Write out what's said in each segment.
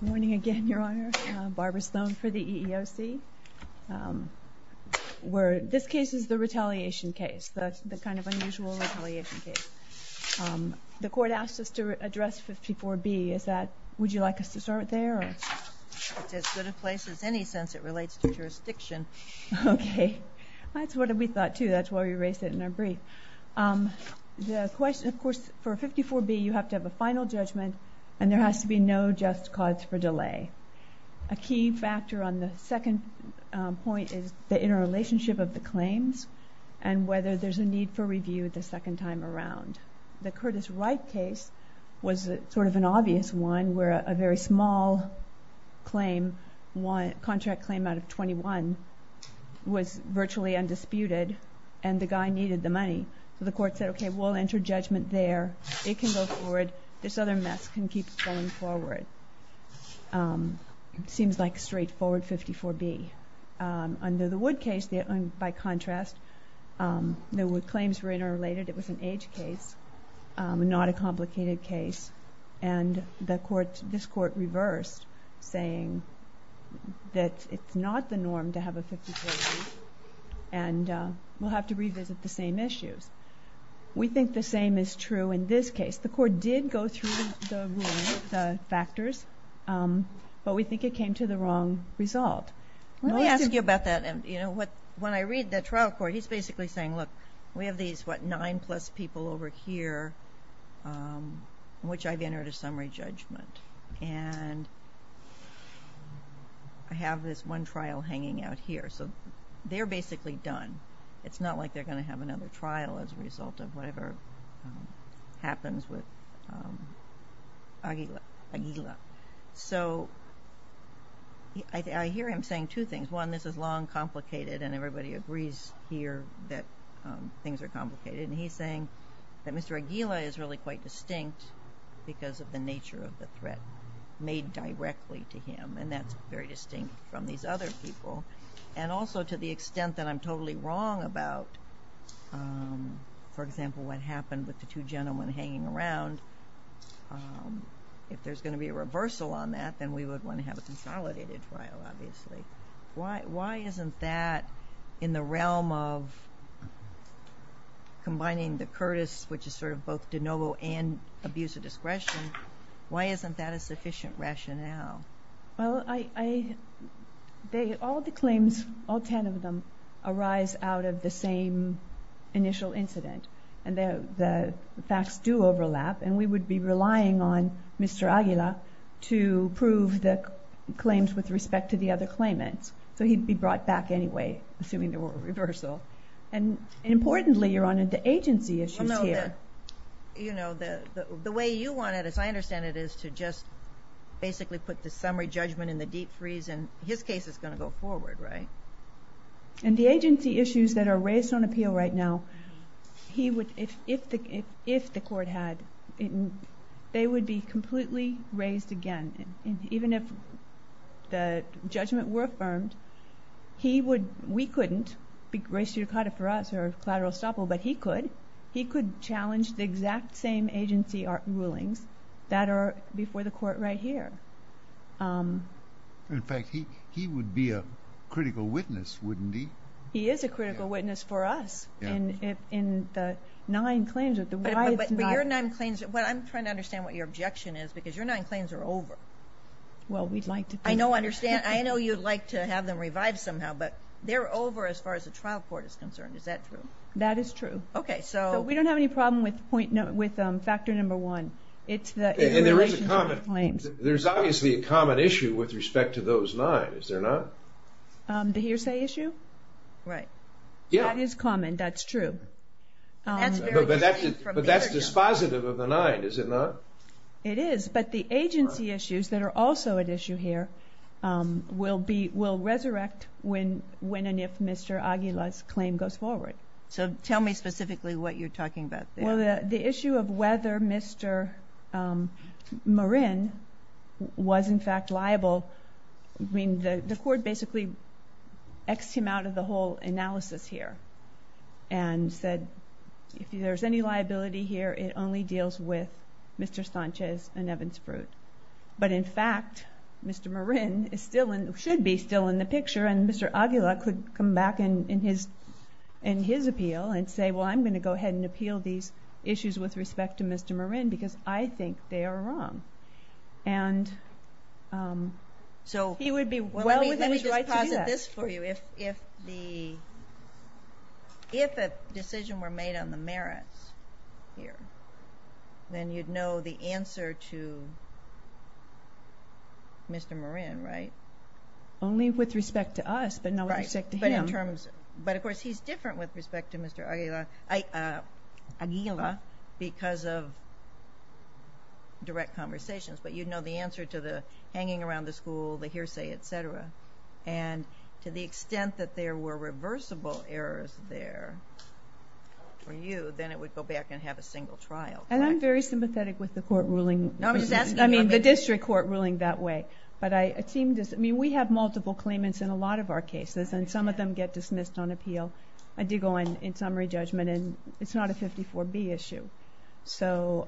Good morning again, Your Honor. Barbara Stone for the EEOC. This case is the retaliation case, the kind of unusual retaliation case. The Court asked us to address 54B. Would you like us to start there? It's as good a place as any since it relates to jurisdiction. Okay. That's what we thought, too. That's why we raised it in our brief. The question, of course, for 54B, you have to have a final judgment, and there has to be no just cause for delay. A key factor on the second point is the interrelationship of the claims and whether there's a need for review the second time around. The Curtis Wright case was sort of an obvious one where a very small contract claim out of 21 was virtually undisputed, and the guy needed the money. So the Court said, okay, we'll enter judgment there. It can go forward. This other mess can keep going forward. It seems like straightforward 54B. Under the Wood case, by contrast, the claims were interrelated. It was an age case, not a complicated case. And this Court reversed, saying that it's not the norm to have a 54B and we'll have to revisit the same issues. We think the same is true in this case. The Court did go through the ruling, the factors, but we think it came to the wrong result. Let me ask you about that. When I read the trial court, he's basically saying, look, we have these nine-plus people over here, which I've entered a summary judgment. And I have this one trial hanging out here. So they're basically done. It's not like they're going to have another trial as a result of whatever happens with Aguila. So I hear him saying two things. One, this is long, complicated, and everybody agrees here that things are complicated. And he's saying that Mr. Aguila is really quite distinct because of the nature of the threat made directly to him, and that's very distinct from these other people. And also to the extent that I'm totally wrong about, for example, what happened with the two gentlemen hanging around, if there's going to be a reversal on that, then we would want to have a consolidated trial, obviously. Why isn't that in the realm of combining the Curtis, which is sort of both de novo and abuse of discretion, why isn't that a sufficient rationale? Well, all the claims, all ten of them, arise out of the same initial incident. And the facts do overlap, and we would be relying on Mr. Aguila to prove the claims with respect to the other claimants. So he'd be brought back anyway, assuming there were a reversal. And importantly, Your Honor, the agency issues here. Well, no, the way you want it, as I understand it, is to just basically put the summary judgment in the deep freeze, and his case is going to go forward, right? And the agency issues that are raised on appeal right now, if the Court had, they would be completely raised again. And even if the judgment were affirmed, he would, we couldn't raise Sudicata for us, or collateral estoppel, but he could. He could challenge the exact same agency rulings that are before the Court right here. In fact, he would be a critical witness, wouldn't he? He is a critical witness for us, in the nine claims. But your nine claims, I'm trying to understand what your objection is, because your nine claims are over. Well, we'd like to do that. I know you'd like to have them revived somehow, but they're over as far as the trial court is concerned. Is that true? That is true. Okay, so. We don't have any problem with factor number one. There's obviously a common issue with respect to those nine, is there not? The hearsay issue? Right. That is common, that's true. But that's dispositive of the nine, is it not? It is, but the agency issues that are also at issue here will resurrect when and if Mr. Aguila's claim goes forward. So tell me specifically what you're talking about there. Well, the issue of whether Mr. Marin was in fact liable, I mean, the Court basically X'd him out of the whole analysis here. And said, if there's any liability here, it only deals with Mr. Sanchez and Evan Sprute. But in fact, Mr. Marin should be still in the picture, and Mr. Aguila could come back in his appeal and say, well, I'm going to go ahead and appeal these issues with respect to Mr. Marin, because I think they are wrong. And he would be well within his right to do that. Let me just posit this for you. If a decision were made on the merits here, then you'd know the answer to Mr. Marin, right? Only with respect to us, but not with respect to him. But of course, he's different with respect to Mr. Aguila because of direct conversations. But you'd know the answer to the hanging around the school, the hearsay, et cetera. And to the extent that there were reversible errors there for you, then it would go back and have a single trial. And I'm very sympathetic with the District Court ruling that way. I mean, we have multiple claimants in a lot of our cases, and some of them get dismissed on appeal. I dig on in summary judgment, and it's not a 54B issue. So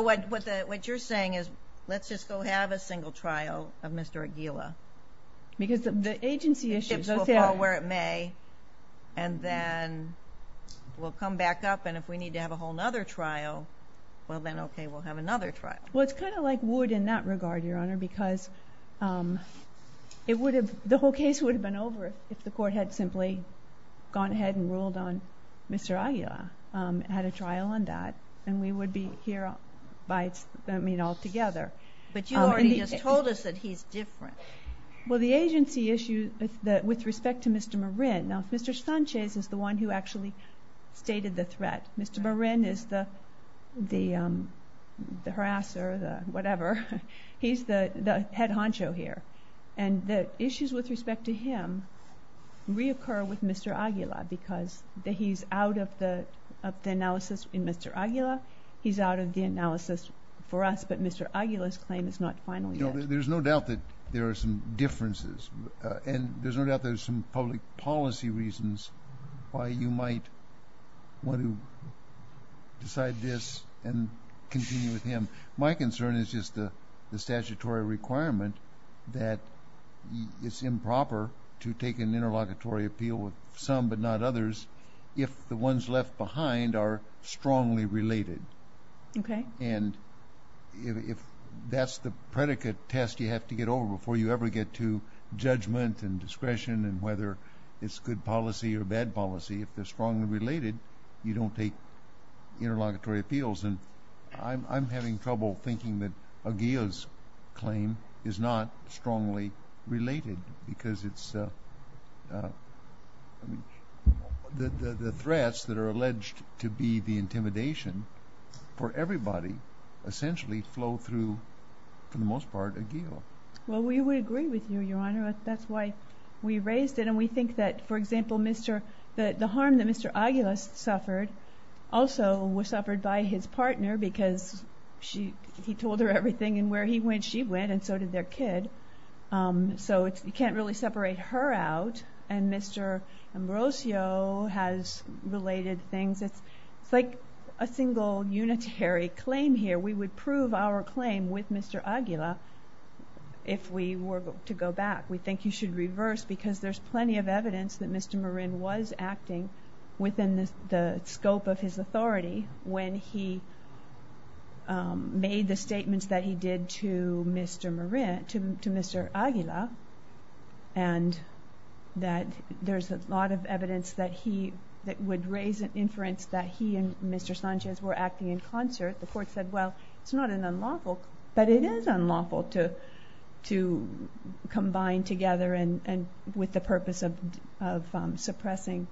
what you're saying is, let's just go have a single trial of Mr. Aguila. Because the agency issues. The chips will fall where it may, and then we'll come back up. And if we need to have a whole other trial, well then, okay, we'll have another trial. Well, it's kind of like wood in that regard, Your Honor, because the whole case would have been over if the Court had simply gone ahead and ruled on Mr. Aguila, had a trial on that. And we would be here all together. But you already just told us that he's different. Well, the agency issues with respect to Mr. Marin. Now, if Mr. Sanchez is the one who actually stated the threat, Mr. Marin is the harasser, the whatever. He's the head honcho here. And the issues with respect to him reoccur with Mr. Aguila because he's out of the analysis in Mr. Aguila. He's out of the analysis for us, but Mr. Aguila's claim is not final yet. There's no doubt that there are some differences, and there's no doubt there's some public policy reasons why you might want to decide this and continue with him. My concern is just the statutory requirement that it's improper to take an interlocutory appeal with some but not others if the ones left behind are strongly related. And if that's the predicate test you have to get over before you ever get to judgment and discretion and whether it's good policy or bad policy, if they're strongly related, you don't take interlocutory appeals. And I'm having trouble thinking that Aguila's claim is not strongly related because the threats that are alleged to be the intimidation for everybody essentially flow through, for the most part, Aguila. Well, we would agree with you, Your Honor. That's why we raised it, and we think that, for example, the harm that Mr. Aguila suffered also was suffered by his partner because he told her everything, and where he went, she went, and so did their kid. So you can't really separate her out, and Mr. Ambrosio has related things. It's like a single unitary claim here. We would prove our claim with Mr. Aguila if we were to go back. We think you should reverse because there's plenty of evidence that Mr. Marin was acting within the scope of his authority when he made the statements that he did to Mr. Marin, to Mr. Aguila, and that there's a lot of evidence that he, that would raise an inference that he and Mr. Sanchez were acting in concert. The court said, well, it's not an unlawful, but it is unlawful to combine together with the purpose of suppressing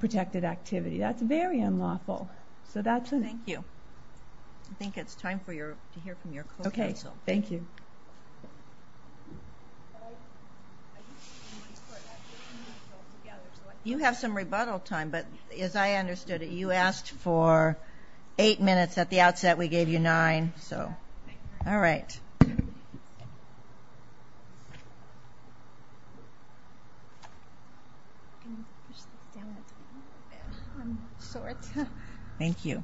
protected activity. That's very unlawful. So that's it. Thank you. I think it's time to hear from your co-counsel. Okay. Thank you. You have some rebuttal time, but as I understood it, you asked for eight minutes at the outset. We gave you nine. All right. Thank you.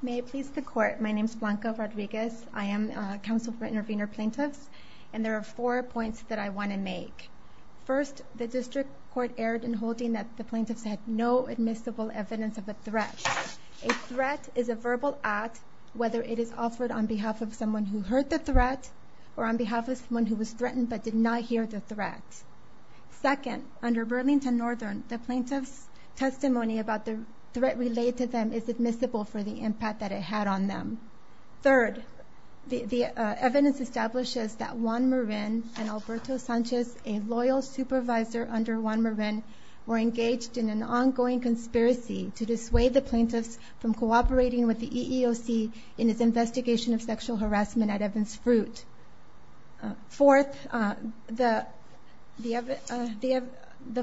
May it please the court. My name is Blanca Rodriguez. I am counsel for intervener plaintiffs, and there are four points that I want to make. First, the district court erred in holding that the plaintiffs had no admissible evidence of a threat. A threat is a verbal act, whether it is offered on behalf of someone who heard the threat or on behalf of someone who was threatened but did not hear the threat. Second, under Burlington Northern, the plaintiff's testimony about the threat relayed to them is admissible for the impact that it had on them. Third, the evidence establishes that Juan Marin and Alberto Sanchez, a loyal supervisor under Juan Marin, were engaged in an ongoing conspiracy to dissuade the plaintiffs from cooperating with the EEOC in its investigation of sexual harassment at Evans Fruit. Fourth, the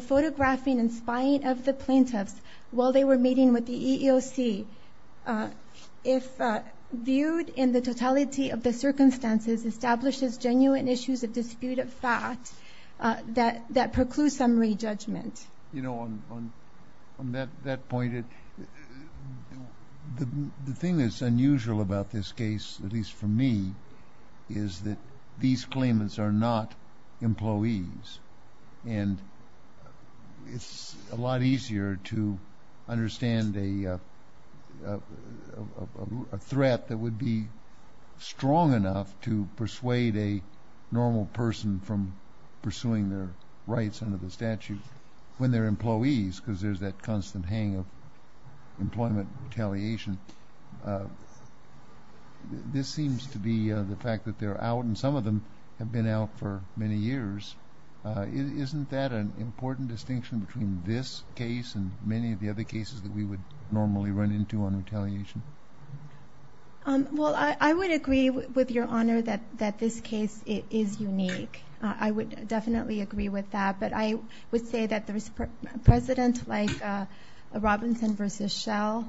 photographing and spying of the plaintiffs while they were meeting with the EEOC, if viewed in the totality of the circumstances, establishes genuine issues of dispute of fact that preclude summary judgment. You know, on that point, the thing that's unusual about this case, at least for me, is that these claimants are not employees, and it's a lot easier to understand a threat that would be strong enough to persuade a normal person from pursuing their rights under the statute when they're employees, because there's that constant hang of employment retaliation. This seems to be the fact that they're out, and some of them have been out for many years. Isn't that an important distinction between this case and many of the other cases that we would normally run into on retaliation? Well, I would agree with Your Honor that this case is unique. I would definitely agree with that. But I would say that there's presidents like Robinson v. Schell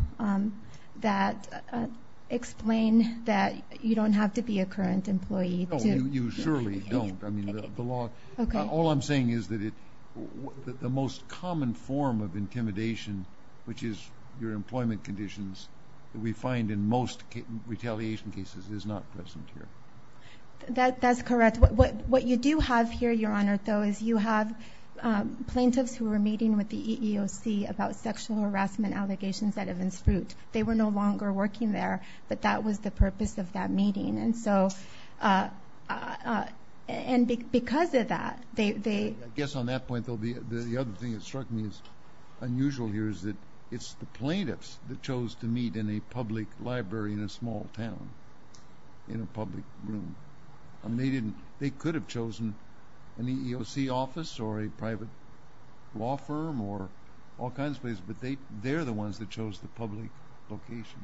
that explain that you don't have to be a current employee. No, you surely don't. I mean, the law. All I'm saying is that the most common form of intimidation, which is your employment conditions, that we find in most retaliation cases is not present here. That's correct. What you do have here, Your Honor, though, is you have plaintiffs who are meeting with the EEOC about sexual harassment allegations that have been spruced. They were no longer working there, but that was the purpose of that meeting. And because of that, they— I guess on that point, the other thing that struck me as unusual here is that it's the plaintiffs that chose to meet in a public library in a small town, in a public room. I mean, they didn't—they could have chosen an EEOC office or a private law firm or all kinds of places, but they're the ones that chose the public location.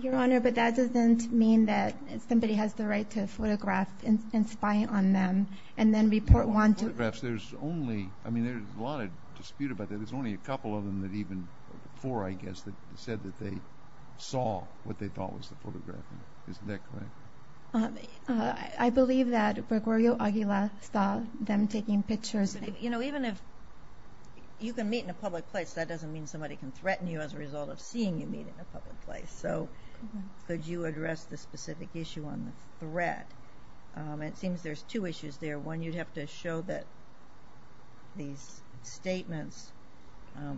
Your Honor, but that doesn't mean that somebody has the right to photograph and spy on them and then report one to— Well, on photographs, there's only—I mean, there's a lot of dispute about that. There's only a couple of them that even—four, I guess, that said that they saw what they thought was the photograph. Isn't that correct? I believe that Gregorio Aguila saw them taking pictures. You know, even if you can meet in a public place, that doesn't mean somebody can threaten you as a result of seeing you meet in a public place. So could you address the specific issue on the threat? It seems there's two issues there. One, you'd have to show that these statements,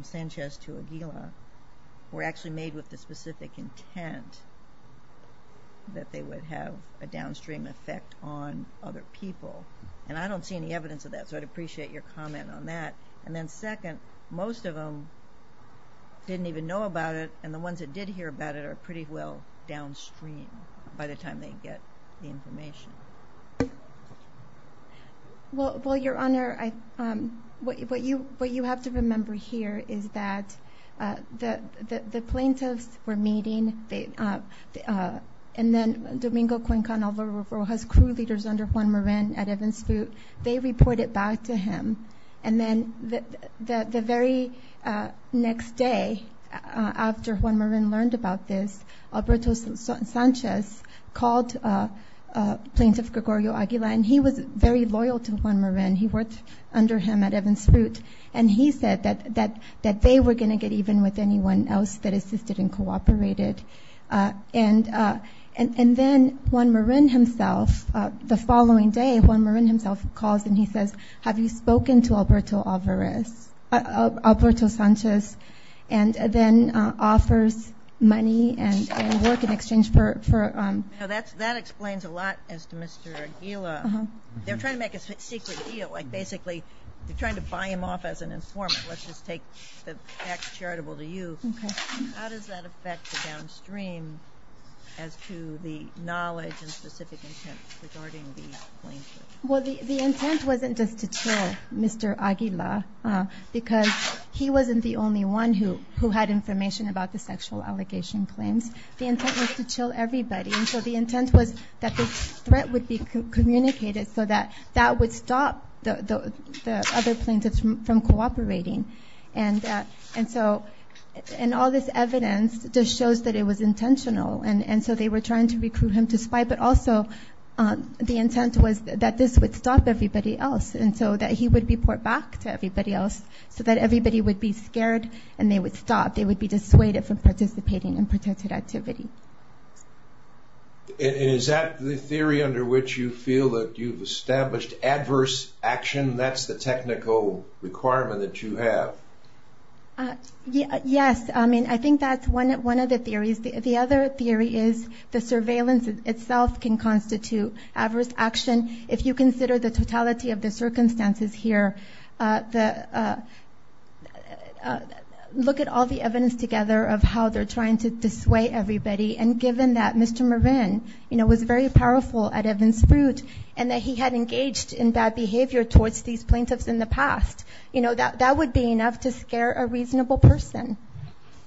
Sanchez to Aguila, were actually made with the specific intent that they would have a downstream effect on other people. And I don't see any evidence of that, so I'd appreciate your comment on that. And then second, most of them didn't even know about it, and the ones that did hear about it are pretty well downstream by the time they get the information. Well, Your Honor, what you have to remember here is that the plaintiffs were meeting, and then Domingo Cuenca and Alvaro Rojas, crew leaders under Juan Marin at Evans Boot, they reported back to him. And then the very next day after Juan Marin learned about this, Alberto Sanchez called Plaintiff Gregorio Aguila, and he was very loyal to Juan Marin. He worked under him at Evans Boot, and he said that they were going to get even with anyone else that assisted and cooperated. And then Juan Marin himself, the following day, Juan Marin himself calls and he says, have you spoken to Alberto Sanchez? And then offers money and work in exchange for ‑‑ Now, that explains a lot as to Mr. Aguila. They're trying to make a secret deal, like basically they're trying to buy him off as an informant, let's just take the tax charitable to you. How does that affect the downstream as to the knowledge and specific intent regarding the plaintiff? Well, the intent wasn't just to chill Mr. Aguila, because he wasn't the only one who had information about the sexual allegation claims. The intent was to chill everybody, and so the intent was that the threat would be communicated so that that would stop the other plaintiffs from cooperating. And so all this evidence just shows that it was intentional, and so they were trying to recruit him to spite. But also the intent was that this would stop everybody else, and so that he would be brought back to everybody else so that everybody would be scared and they would stop. They would be dissuaded from participating in protected activity. And is that the theory under which you feel that you've established adverse action? That's the technical requirement that you have. Yes, I mean, I think that's one of the theories. The other theory is the surveillance itself can constitute adverse action. If you consider the totality of the circumstances here, look at all the evidence together of how they're trying to dissuade everybody, and given that Mr. Marin was very powerful at Evans Fruit and that he had engaged in bad behavior towards these plaintiffs in the past, that would be enough to scare a reasonable person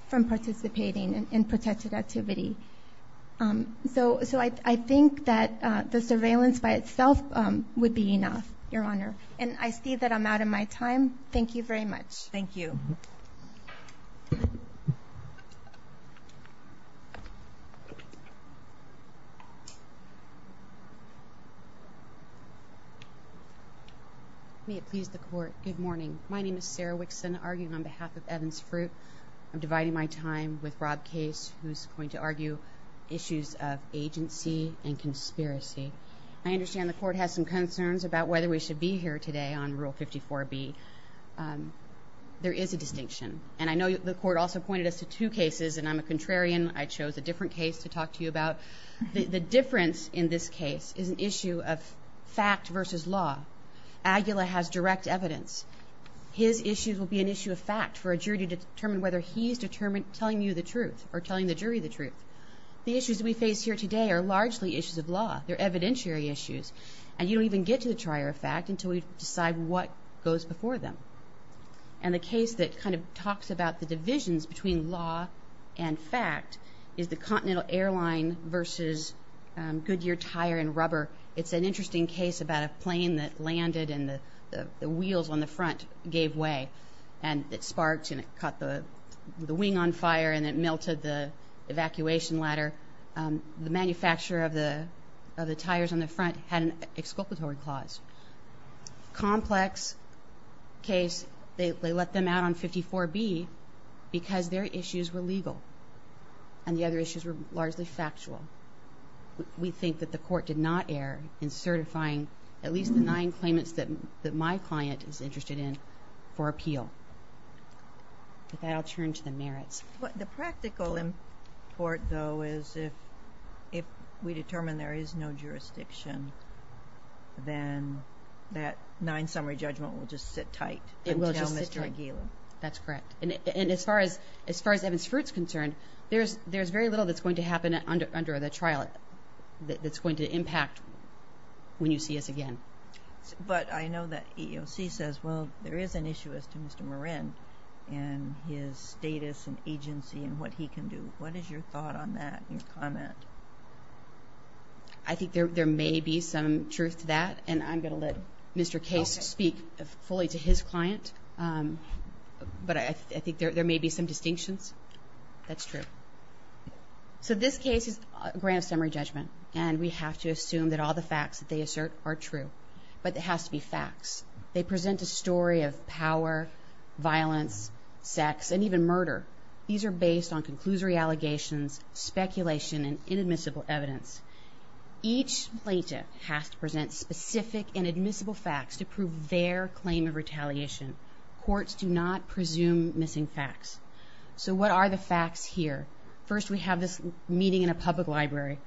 from participating in protected activity. So I think that the surveillance by itself would be enough, Your Honor. And I see that I'm out of my time. Thank you very much. Thank you. May it please the Court, good morning. My name is Sarah Wixon, arguing on behalf of Evans Fruit. I'm dividing my time with Rob Case, who's going to argue issues of agency and conspiracy. I understand the Court has some concerns about whether we should be here today on Rule 54B. There is a distinction. And I know the Court also pointed us to two cases, and I'm a contrarian. I chose a different case to talk to you about. The difference in this case is an issue of fact versus law. Aguila has direct evidence. His issues will be an issue of fact for a jury to determine whether he's telling you the truth or telling the jury the truth. The issues we face here today are largely issues of law. They're evidentiary issues. And you don't even get to the trier of fact until we decide what goes before them. And the case that kind of talks about the divisions between law and fact is the Continental Airline versus Goodyear Tire and Rubber. It's an interesting case about a plane that landed and the wheels on the front gave way. And it sparked and it caught the wing on fire and it melted the evacuation ladder. The manufacturer of the tires on the front had an exculpatory clause. Complex case, they let them out on 54B because their issues were legal and the other issues were largely factual. We think that the Court did not err in certifying at least the nine claimants that my client is interested in for appeal. With that, I'll turn to the merits. The practical import, though, is if we determine there is no jurisdiction, then that nine-summary judgment will just sit tight until Mr. Aguila. That's correct. And as far as Evans Fruit is concerned, there's very little that's going to happen under the trial that's going to impact when you see us again. But I know that EEOC says, well, there is an issue as to Mr. Morin and his status and agency and what he can do. What is your thought on that, your comment? I think there may be some truth to that, and I'm going to let Mr. Case speak fully to his client. But I think there may be some distinctions. That's true. So this case is a grand summary judgment, and we have to assume that all the facts that they assert are true. But it has to be facts. They present a story of power, violence, sex, and even murder. These are based on conclusory allegations, speculation, and inadmissible evidence. Each plaintiff has to present specific and admissible facts to prove their claim of retaliation. Courts do not presume missing facts. So what are the facts here? First, we have this meeting in a public library.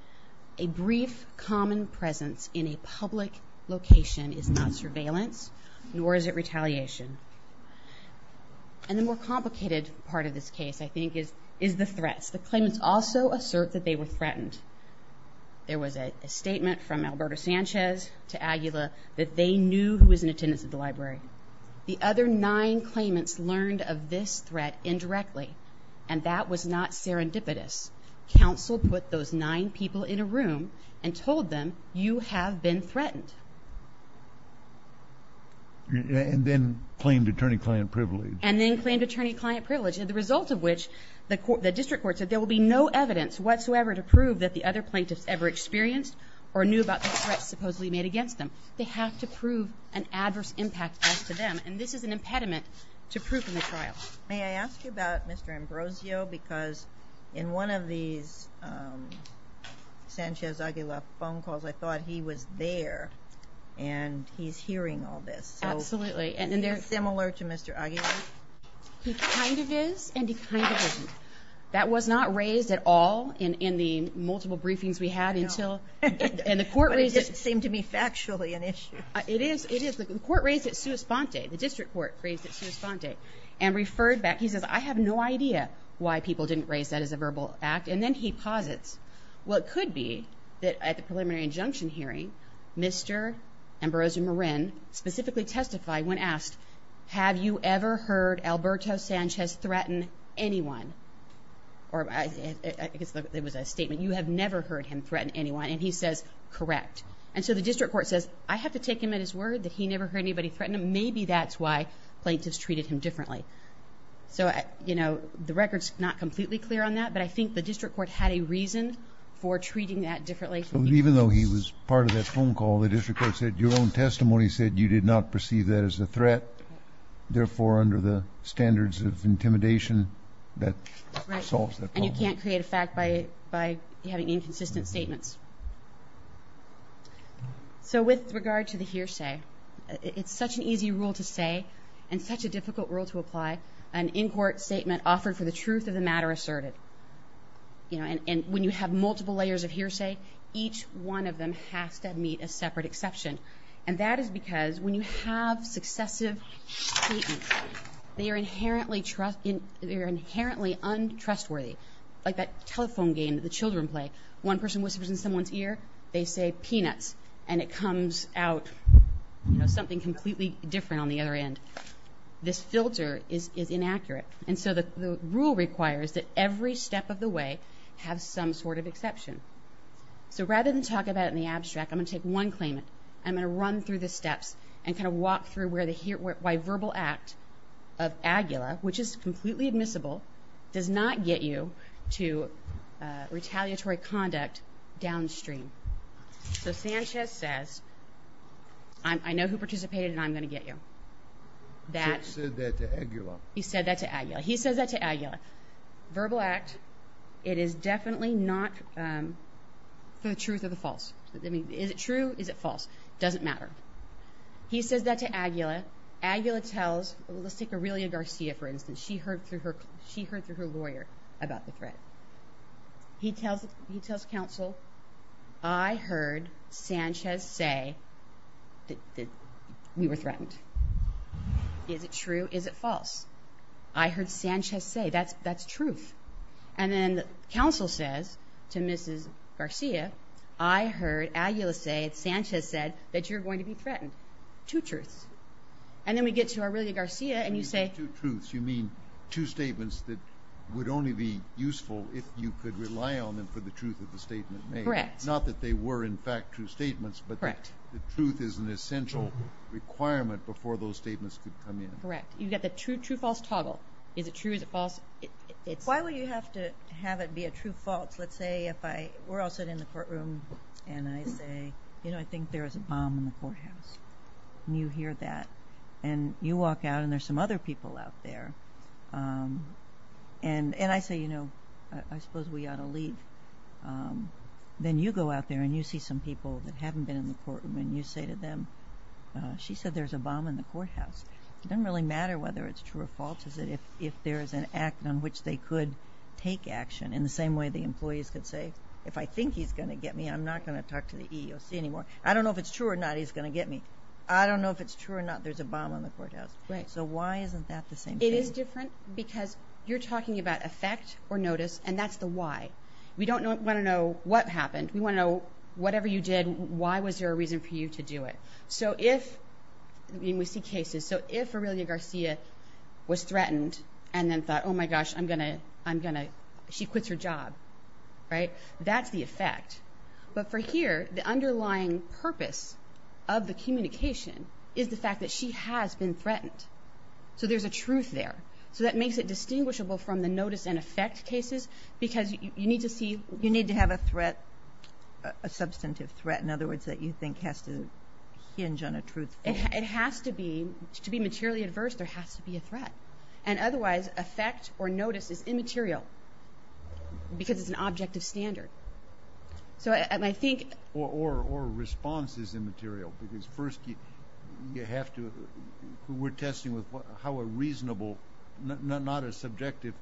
A brief common presence in a public location is not surveillance, nor is it retaliation. And the more complicated part of this case, I think, is the threats. The claimants also assert that they were threatened. There was a statement from Alberto Sanchez to Aguila that they knew who was in attendance at the library. The other nine claimants learned of this threat indirectly, and that was not serendipitous. Counsel put those nine people in a room and told them, you have been threatened. And then claimed attorney-client privilege. And then claimed attorney-client privilege, the result of which the district court said there will be no evidence whatsoever to prove that the other plaintiffs ever experienced or knew about the threats supposedly made against them. They have to prove an adverse impact to them, and this is an impediment to proof in the trial. May I ask you about Mr. Ambrosio? Because in one of these Sanchez-Aguila phone calls, I thought he was there, and he's hearing all this. Absolutely. Is he similar to Mr. Aguila? He kind of is, and he kind of isn't. That was not raised at all in the multiple briefings we had until the court raised it. It just seemed to me factually an issue. It is. The court raised it sua sponte. The district court raised it sua sponte. And referred back, he says, I have no idea why people didn't raise that as a verbal act. And then he posits, well, it could be that at the preliminary injunction hearing, Mr. Ambrosio Morin specifically testified when asked, have you ever heard Alberto Sanchez threaten anyone? Or I guess it was a statement, you have never heard him threaten anyone, and he says, correct. And so the district court says, I have to take him at his word that he never heard anybody threaten him. And maybe that's why plaintiffs treated him differently. So, you know, the record's not completely clear on that, but I think the district court had a reason for treating that differently. Even though he was part of that phone call, the district court said your own testimony said you did not perceive that as a threat. Therefore, under the standards of intimidation, that solves that problem. And you can't create a fact by having inconsistent statements. So with regard to the hearsay, it's such an easy rule to say and such a difficult rule to apply. An in-court statement offered for the truth of the matter asserted. And when you have multiple layers of hearsay, each one of them has to meet a separate exception. And that is because when you have successive statements, they are inherently untrustworthy, like that telephone game that the children play. One person whispers in someone's ear, they say, peanuts. And it comes out something completely different on the other end. This filter is inaccurate. And so the rule requires that every step of the way has some sort of exception. So rather than talk about it in the abstract, I'm going to take one claimant. I'm going to run through the steps and kind of walk through why verbal act of AGULA, which is completely admissible, does not get you to retaliatory conduct downstream. So Sanchez says, I know who participated and I'm going to get you. He said that to AGULA. He said that to AGULA. He says that to AGULA. Verbal act, it is definitely not for the truth or the false. Is it true? Is it false? It doesn't matter. He says that to AGULA. AGULA tells, let's take Aurelia Garcia, for instance. She heard through her lawyer about the threat. He tells counsel, I heard Sanchez say that we were threatened. Is it true? Is it false? I heard Sanchez say, that's truth. And then counsel says to Mrs. Garcia, I heard AGULA say, Sanchez said, that you're going to be threatened. Two truths. And then we get to Aurelia Garcia and you say. When you say two truths, you mean two statements that would only be useful if you could rely on them for the truth of the statement made. Correct. Not that they were, in fact, true statements. Correct. But the truth is an essential requirement before those statements could come in. Correct. You've got the true-false toggle. Is it true? Is it false? Why would you have to have it be a true-false? Let's say if I were all sitting in the courtroom and I say, you know, I think there was a bomb in the courthouse. And you hear that. And you walk out and there's some other people out there. And I say, you know, I suppose we ought to leave. Then you go out there and you see some people that haven't been in the courtroom and you say to them, she said there's a bomb in the courthouse. It doesn't really matter whether it's true or false, is that if there is an act on which they could take action, in the same way the employees could say, if I think he's going to get me, I'm not going to talk to the EEOC anymore. I don't know if it's true or not he's going to get me. I don't know if it's true or not there's a bomb in the courthouse. So why isn't that the same thing? It is different because you're talking about effect or notice, and that's the why. We don't want to know what happened. We want to know whatever you did, why was there a reason for you to do it. So if, and we see cases, so if Aurelia Garcia was threatened and then thought, oh, my gosh, I'm going to, she quits her job, right, that's the effect. But for here, the underlying purpose of the communication is the fact that she has been threatened. So there's a truth there. So that makes it distinguishable from the notice and effect cases because you need to see. You need to have a threat, a substantive threat, in other words, that you think has to hinge on a truth. It has to be. To be materially adverse, there has to be a threat. And otherwise, effect or notice is immaterial because it's an object of standard. So I think... Or response is immaterial because first you have to, we're testing with how a reasonable, not a subjective,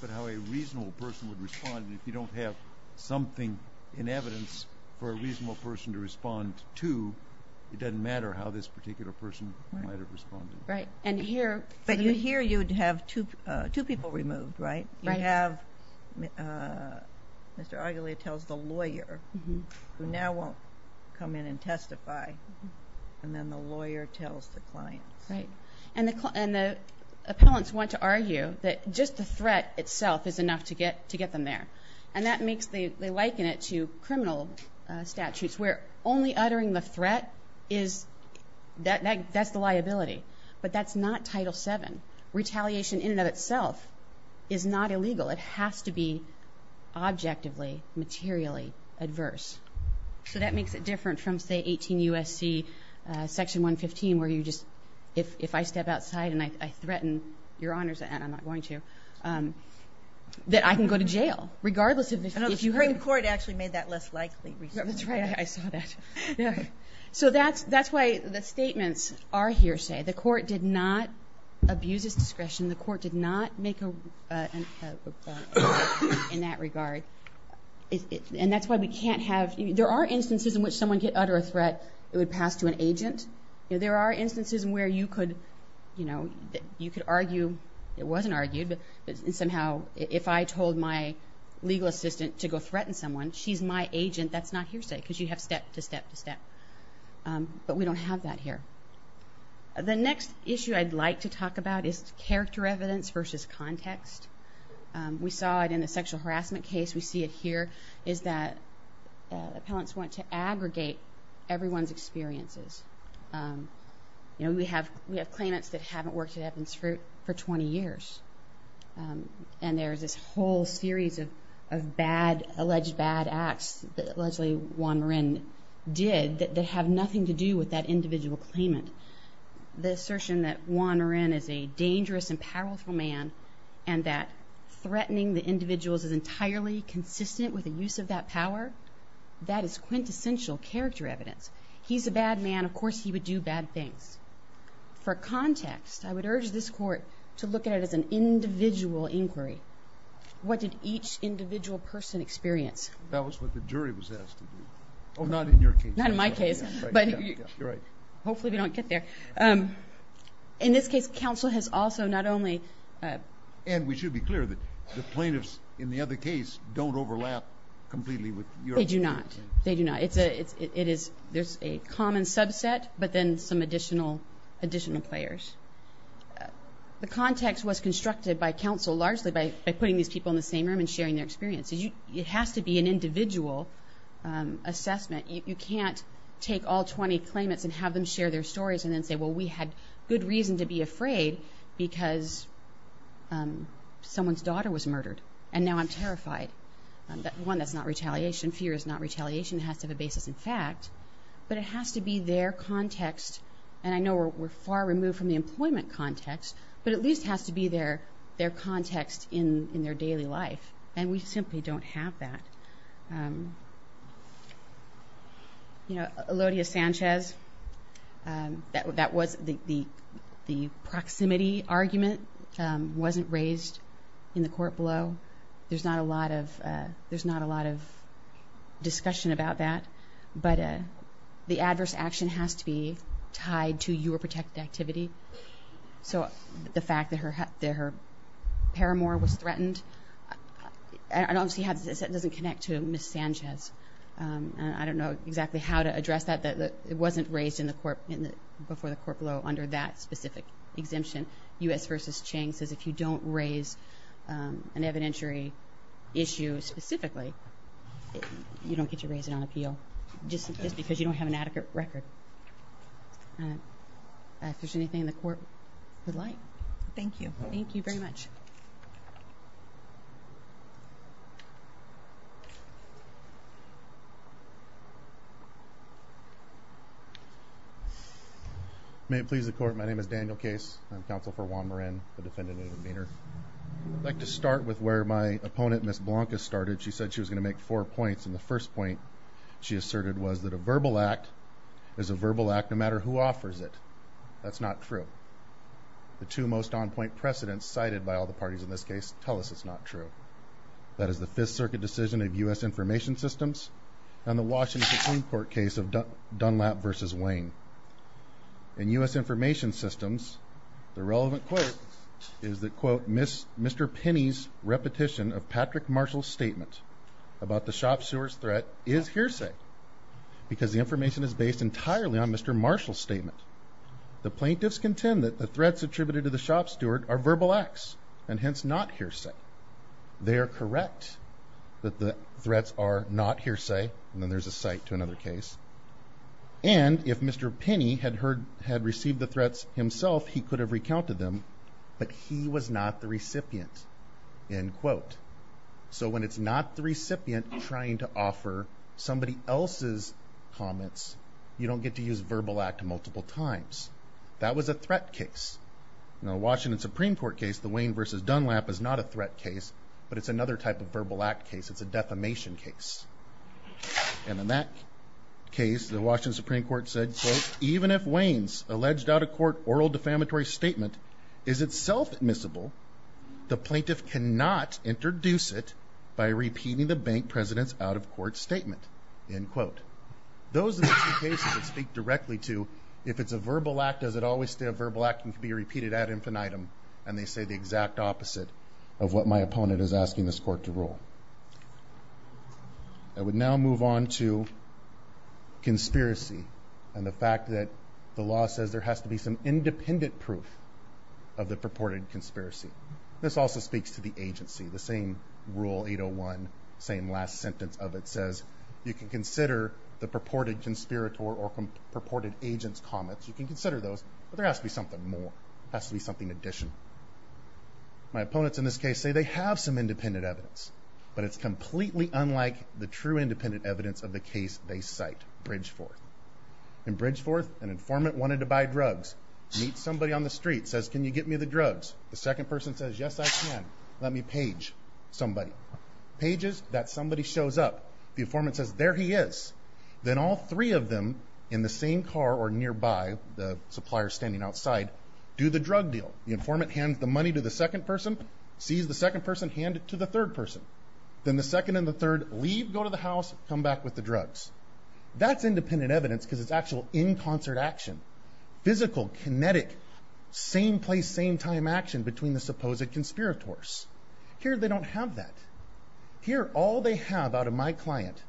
but how a reasonable person would respond. If you don't have something in evidence for a reasonable person to respond to, it doesn't matter how this particular person might have responded. Right. And here... But here you would have two people removed, right? Right. You have, Mr. Argulia tells the lawyer who now won't come in and testify, and then the lawyer tells the client. Right. And the appellants want to argue that just the threat itself is enough to get them there. And that makes, they liken it to criminal statutes where only uttering the threat is, that's the liability. But that's not Title VII. Retaliation in and of itself is not illegal. It has to be objectively, materially adverse. So that makes it different from, say, 18 U.S.C. Section 115 where you just, if I step outside and I threaten your honors, and I'm not going to, that I can go to jail regardless of if you had... That's right, I saw that. So that's why the statements are hearsay. The court did not abuse its discretion. The court did not make a... in that regard. And that's why we can't have... There are instances in which someone could utter a threat, it would pass to an agent. There are instances where you could argue, it wasn't argued, but somehow if I told my legal assistant to go threaten someone, she's my agent, that's not hearsay because you have step to step to step. But we don't have that here. The next issue I'd like to talk about is character evidence versus context. We saw it in the sexual harassment case, we see it here, is that appellants want to aggregate everyone's experiences. We have claimants that haven't worked at Evans Fruit for 20 years. And there's this whole series of bad, alleged bad acts, allegedly Juan Marin did, that have nothing to do with that individual claimant. The assertion that Juan Marin is a dangerous and powerful man and that threatening the individuals is entirely consistent with the use of that power, that is quintessential character evidence. He's a bad man, of course he would do bad things. For context, I would urge this court to look at it as an individual inquiry. What did each individual person experience? That was what the jury was asked to do. Oh, not in your case. Not in my case. You're right. Hopefully we don't get there. In this case, counsel has also not only... And we should be clear that the plaintiffs in the other case don't overlap completely with your case. They do not. They do not. There's a common subset, but then some additional players. The context was constructed by counsel largely by putting these people in the same room and sharing their experiences. It has to be an individual assessment. You can't take all 20 claimants and have them share their stories and then say, well, we had good reason to be afraid because someone's daughter was murdered, and now I'm terrified. One, that's not retaliation. Fear is not retaliation. It has to have a basis in fact. But it has to be their context. And I know we're far removed from the employment context, but at least it has to be their context in their daily life. And we simply don't have that. Elodia Sanchez, the proximity argument wasn't raised in the court below. There's not a lot of discussion about that. But the adverse action has to be tied to your protected activity. So the fact that her paramour was threatened, I don't see how this doesn't connect to Ms. Sanchez. I don't know exactly how to address that. It wasn't raised before the court below under that specific exemption. U.S. v. Chang says if you don't raise an evidentiary issue specifically, you don't get to raise it on appeal just because you don't have an adequate record. If there's anything the court would like. Thank you. Thank you very much. May it please the Court, my name is Daniel Case. I'm counsel for Juan Marin, the defendant in the demeanor. I'd like to start with where my opponent, Ms. Blanca, started. She said she was going to make four points, and the first point she asserted was that a verbal act is a verbal act no matter who offers it. That's not true. The two most on-point precedents cited by all the parties in this case tell us it's not true. That is the Fifth Circuit decision of U.S. Information Systems and the Washington Supreme Court case of Dunlap v. Wayne. In U.S. Information Systems, the relevant quote is that, Mr. Penney's repetition of Patrick Marshall's statement about the shop steward's threat is hearsay because the information is based entirely on Mr. Marshall's statement. The plaintiffs contend that the threats attributed to the shop steward are verbal acts and hence not hearsay. They are correct that the threats are not hearsay, and then there's a cite to another case, and if Mr. Penney had received the threats himself, he could have recounted them, but he was not the recipient, end quote. So when it's not the recipient trying to offer somebody else's comments, you don't get to use verbal act multiple times. That was a threat case. In the Washington Supreme Court case, the Wayne v. Dunlap is not a threat case, but it's another type of verbal act case. It's a defamation case. And in that case, the Washington Supreme Court said, even if Wayne's alleged out-of-court oral defamatory statement is itself admissible, the plaintiff cannot introduce it by repeating the bank president's out-of-court statement, end quote. Those are the two cases that speak directly to if it's a verbal act, does it always stay a verbal act and can be repeated ad infinitum, and they say the exact opposite of what my opponent is asking this court to rule. I would now move on to conspiracy and the fact that the law says there has to be some independent proof of the purported conspiracy. This also speaks to the agency. The same Rule 801, same last sentence of it, says you can consider the purported conspirator or purported agent's comments. You can consider those, but there has to be something more. There has to be something in addition. My opponents in this case say they have some independent evidence, but it's completely unlike the true independent evidence of the case they cite, Bridgeforth. In Bridgeforth, an informant wanted to buy drugs. He meets somebody on the street, says, can you get me the drugs? The second person says, yes, I can. Let me page somebody. Pages, that somebody shows up. The informant says, there he is. Then all three of them in the same car or nearby, the supplier standing outside, do the drug deal. The informant hands the money to the second person, sees the second person, hands it to the third person. Then the second and the third leave, go to the house, come back with the drugs. That's independent evidence because it's actual in concert action. Physical, kinetic, same place, same time action between the supposed conspirators. Here they don't have that. Here all they have out of my client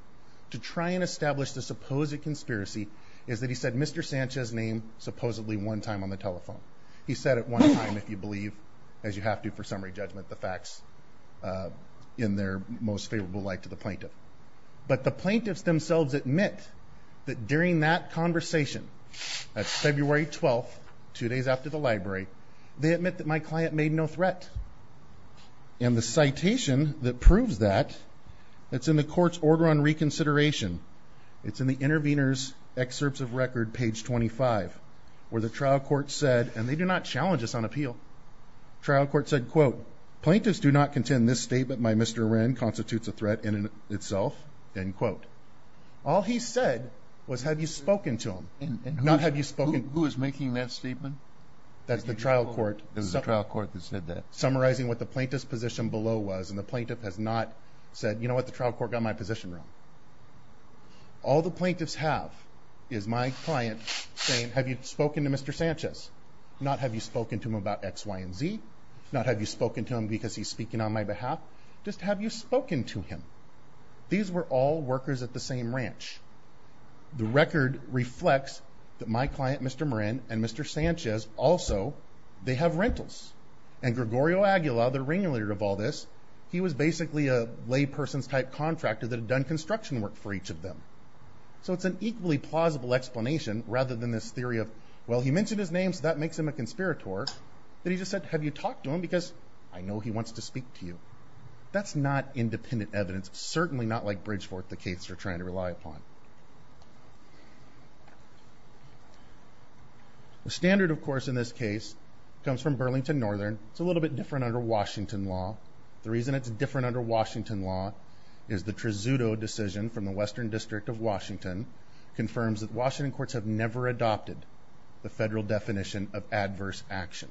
to try and establish the supposed conspiracy is that he said Mr. Sanchez's name supposedly one time on the telephone. He said it one time, if you believe, as you have to for summary judgment, the facts in their most favorable light to the plaintiff. But the plaintiffs themselves admit that during that conversation, that's February 12th, two days after the library, they admit that my client made no threat. And the citation that proves that, it's in the court's order on reconsideration. It's in the intervener's excerpts of record, page 25, where the trial court said, and they do not challenge us on appeal, trial court said, quote, plaintiffs do not contend this statement by Mr. Wren constitutes a threat in itself, end quote. All he said was have you spoken to him, not have you spoken. Who is making that statement? That's the trial court. It was the trial court that said that. Summarizing what the plaintiff's position below was, and the plaintiff has not said, you know what, the trial court got my position wrong. All the plaintiffs have is my client saying have you spoken to Mr. Sanchez, not have you spoken to him about X, Y, and Z, not have you spoken to him because he's speaking on my behalf, just have you spoken to him. These were all workers at the same ranch. The record reflects that my client, Mr. Wren, and Mr. Sanchez also, they have rentals. And Gregorio Aguila, the regulator of all this, he was basically a layperson's type contractor that had done construction work for each of them. So it's an equally plausible explanation rather than this theory of, well, he mentioned his name so that makes him a conspirator, that he just said have you talked to him because I know he wants to speak to you. That's not independent evidence. It's certainly not like Bridgeforth, the case we're trying to rely upon. The standard, of course, in this case comes from Burlington Northern. It's a little bit different under Washington law. The reason it's different under Washington law is the Trezuto decision from the Western District of Washington confirms that Washington courts have never adopted the federal definition of adverse action.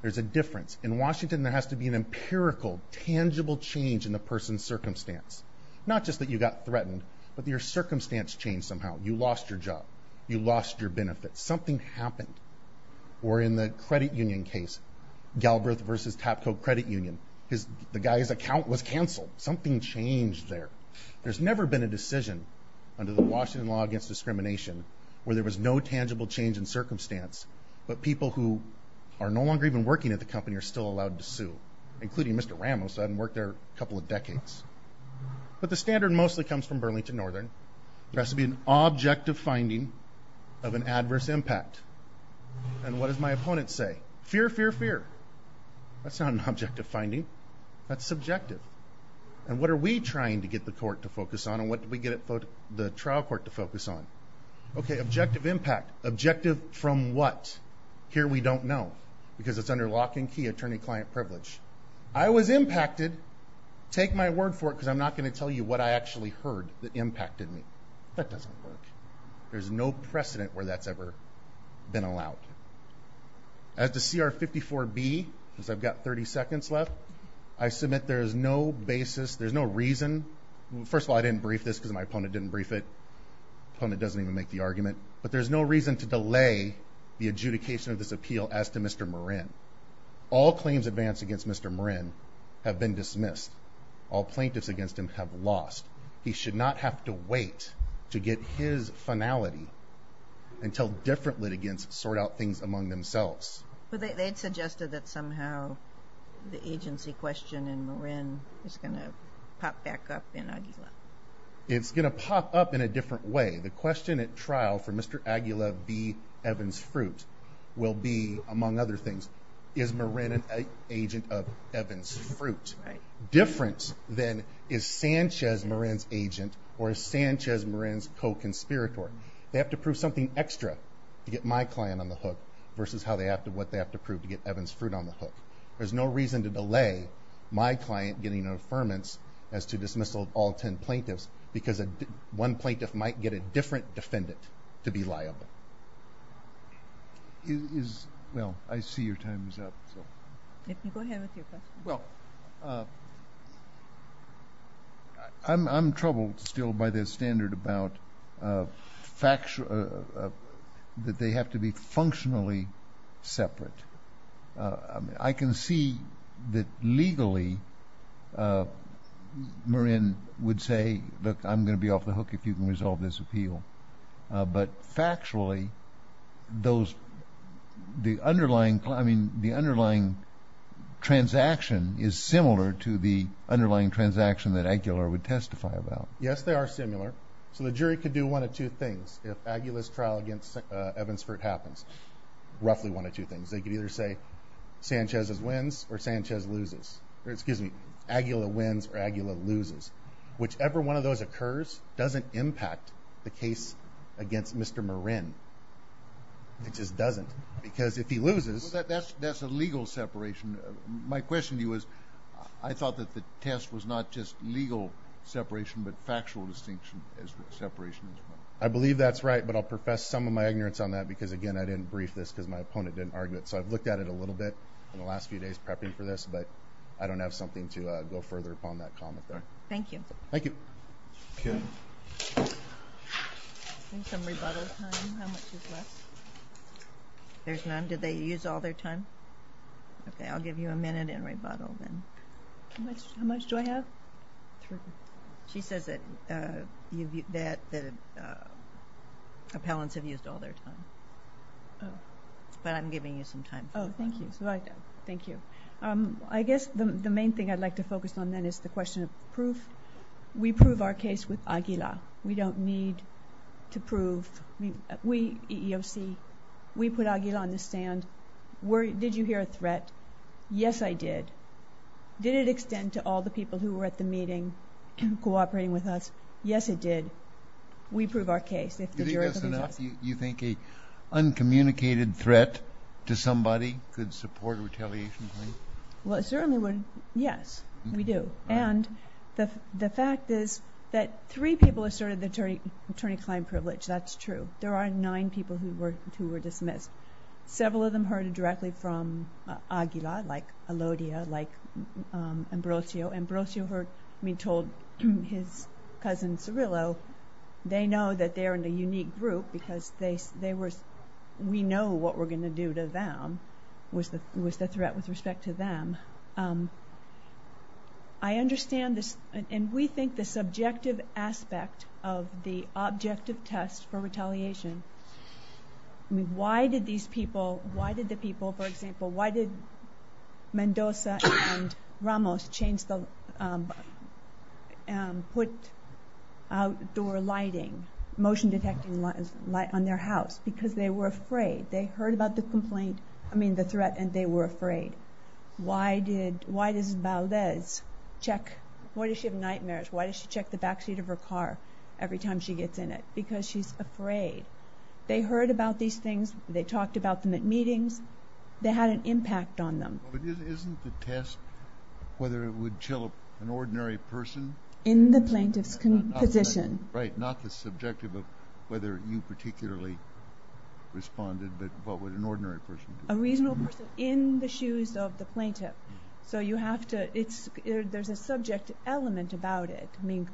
There's a difference. In Washington, there has to be an empirical, tangible change in the person's circumstance. Not just that you got threatened, but your circumstance changed somehow. You lost your job. You lost your benefits. Something happened. Or in the credit union case, Galbraith v. Tapco Credit Union, the guy's account was canceled. Something changed there. There's never been a decision under the Washington law against discrimination where there was no tangible change in circumstance, but people who are no longer even working at the company are still allowed to sue, including Mr. Ramos who hadn't worked there a couple of decades. But the standard mostly comes from Burlington Northern. There has to be an objective finding of an adverse impact. And what does my opponent say? Fear, fear, fear. That's not an objective finding. That's subjective. And what are we trying to get the court to focus on and what do we get the trial court to focus on? Okay, objective impact. Objective from what? Here we don't know because it's under lock and key, attorney-client privilege. I was impacted. Take my word for it because I'm not going to tell you what I actually heard that impacted me. That doesn't work. There's no precedent where that's ever been allowed. As to CR 54B, because I've got 30 seconds left, I submit there is no basis, there's no reason. First of all, I didn't brief this because my opponent didn't brief it. My opponent doesn't even make the argument. But there's no reason to delay the adjudication of this appeal as to Mr. Morin. All claims advanced against Mr. Morin have been dismissed. All plaintiffs against him have lost. He should not have to wait to get his finality until different litigants sort out things among themselves. But they had suggested that somehow the agency question in Morin is going to pop back up in Aguila. It's going to pop up in a different way. The question at trial for Mr. Aguila B. Evans-Fruit will be, among other things, is Morin an agent of Evans-Fruit, different than is Sanchez Morin's agent or is Sanchez Morin's co-conspirator? They have to prove something extra to get my client on the hook versus what they have to prove to get Evans-Fruit on the hook. There's no reason to delay my client getting an affirmance as to dismissal of all ten plaintiffs because one plaintiff might get a different defendant to be liable. Well, I see your time is up. Go ahead with your question. I'm troubled still by their standard about that they have to be functionally separate. I can see that legally Morin would say, look, I'm going to be off the hook if you can resolve this appeal. But factually, the underlying transaction is similar to the underlying transaction that Aguilar would testify about. Yes, they are similar. So the jury could do one of two things if Aguila's trial against Evans-Fruit happens, roughly one of two things. They could either say Sanchez wins or Sanchez loses. Excuse me, Aguila wins or Aguila loses. Whichever one of those occurs doesn't impact the case against Mr. Morin. It just doesn't because if he loses – That's a legal separation. My question to you is I thought that the test was not just legal separation but factual distinction as to separation. I believe that's right, but I'll profess some of my ignorance on that because, again, I didn't brief this because my opponent didn't argue it. So I've looked at it a little bit in the last few days prepping for this, but I don't have something to go further upon that comment there. Thank you. Thank you. Okay. Any some rebuttal time? How much is left? There's none. Did they use all their time? Okay, I'll give you a minute and rebuttal then. How much do I have? She says that appellants have used all their time. But I'm giving you some time. Oh, thank you. Thank you. I guess the main thing I'd like to focus on then is the question of proof. We prove our case with Aguila. We don't need to prove. We, EEOC, we put Aguila on the stand. Did you hear a threat? Yes, I did. Did it extend to all the people who were at the meeting cooperating with us? Yes, it did. We prove our case. Do you think that's enough? You think an uncommunicated threat to somebody could support a retaliation claim? Well, it certainly would. Yes, we do. And the fact is that three people asserted the attorney-client privilege. That's true. There are nine people who were dismissed. Several of them heard it directly from Aguila, like Elodia, like Ambrosio. Ambrosio told his cousin Cirillo, they know that they're in a unique group because we know what we're going to do to them, was the threat with respect to them. I understand this, and we think the subjective aspect of the objective test for retaliation, I mean, why did these people, why did the people, for example, why did Mendoza and Ramos put outdoor lighting, motion-detecting light on their house? Because they were afraid. They heard about the threat, and they were afraid. Why does Valdez check? Why does she have nightmares? Why does she check the backseat of her car every time she gets in it? Because she's afraid. They heard about these things. They talked about them at meetings. They had an impact on them. Isn't the test whether it would chill an ordinary person? In the plaintiff's position. Right, not the subjective of whether you particularly responded, but what would an ordinary person do? A reasonable person in the shoes of the plaintiff. So you have to, there's a subject element about it. I mean,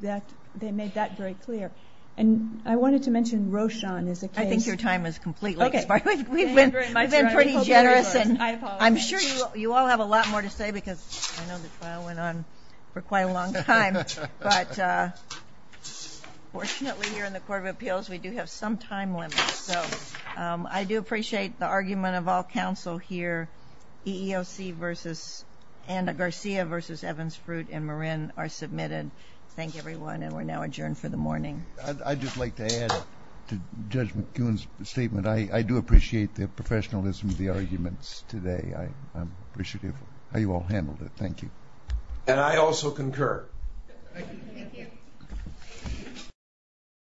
they made that very clear. And I wanted to mention Rochon is a case. I think your time is completely expired. We've been pretty generous. I'm sure you all have a lot more to say because I know the trial went on for quite a long time. But fortunately here in the Court of Appeals, we do have some time limits. So I do appreciate the argument of all counsel here. EEOC versus, and Garcia versus Evans-Fruit and Marin are submitted. Thank you, everyone, and we're now adjourned for the morning. I'd just like to add to Judge McGoon's statement. I do appreciate the professionalism of the arguments today. I'm appreciative of how you all handled it. Thank you. And I also concur. Thank you.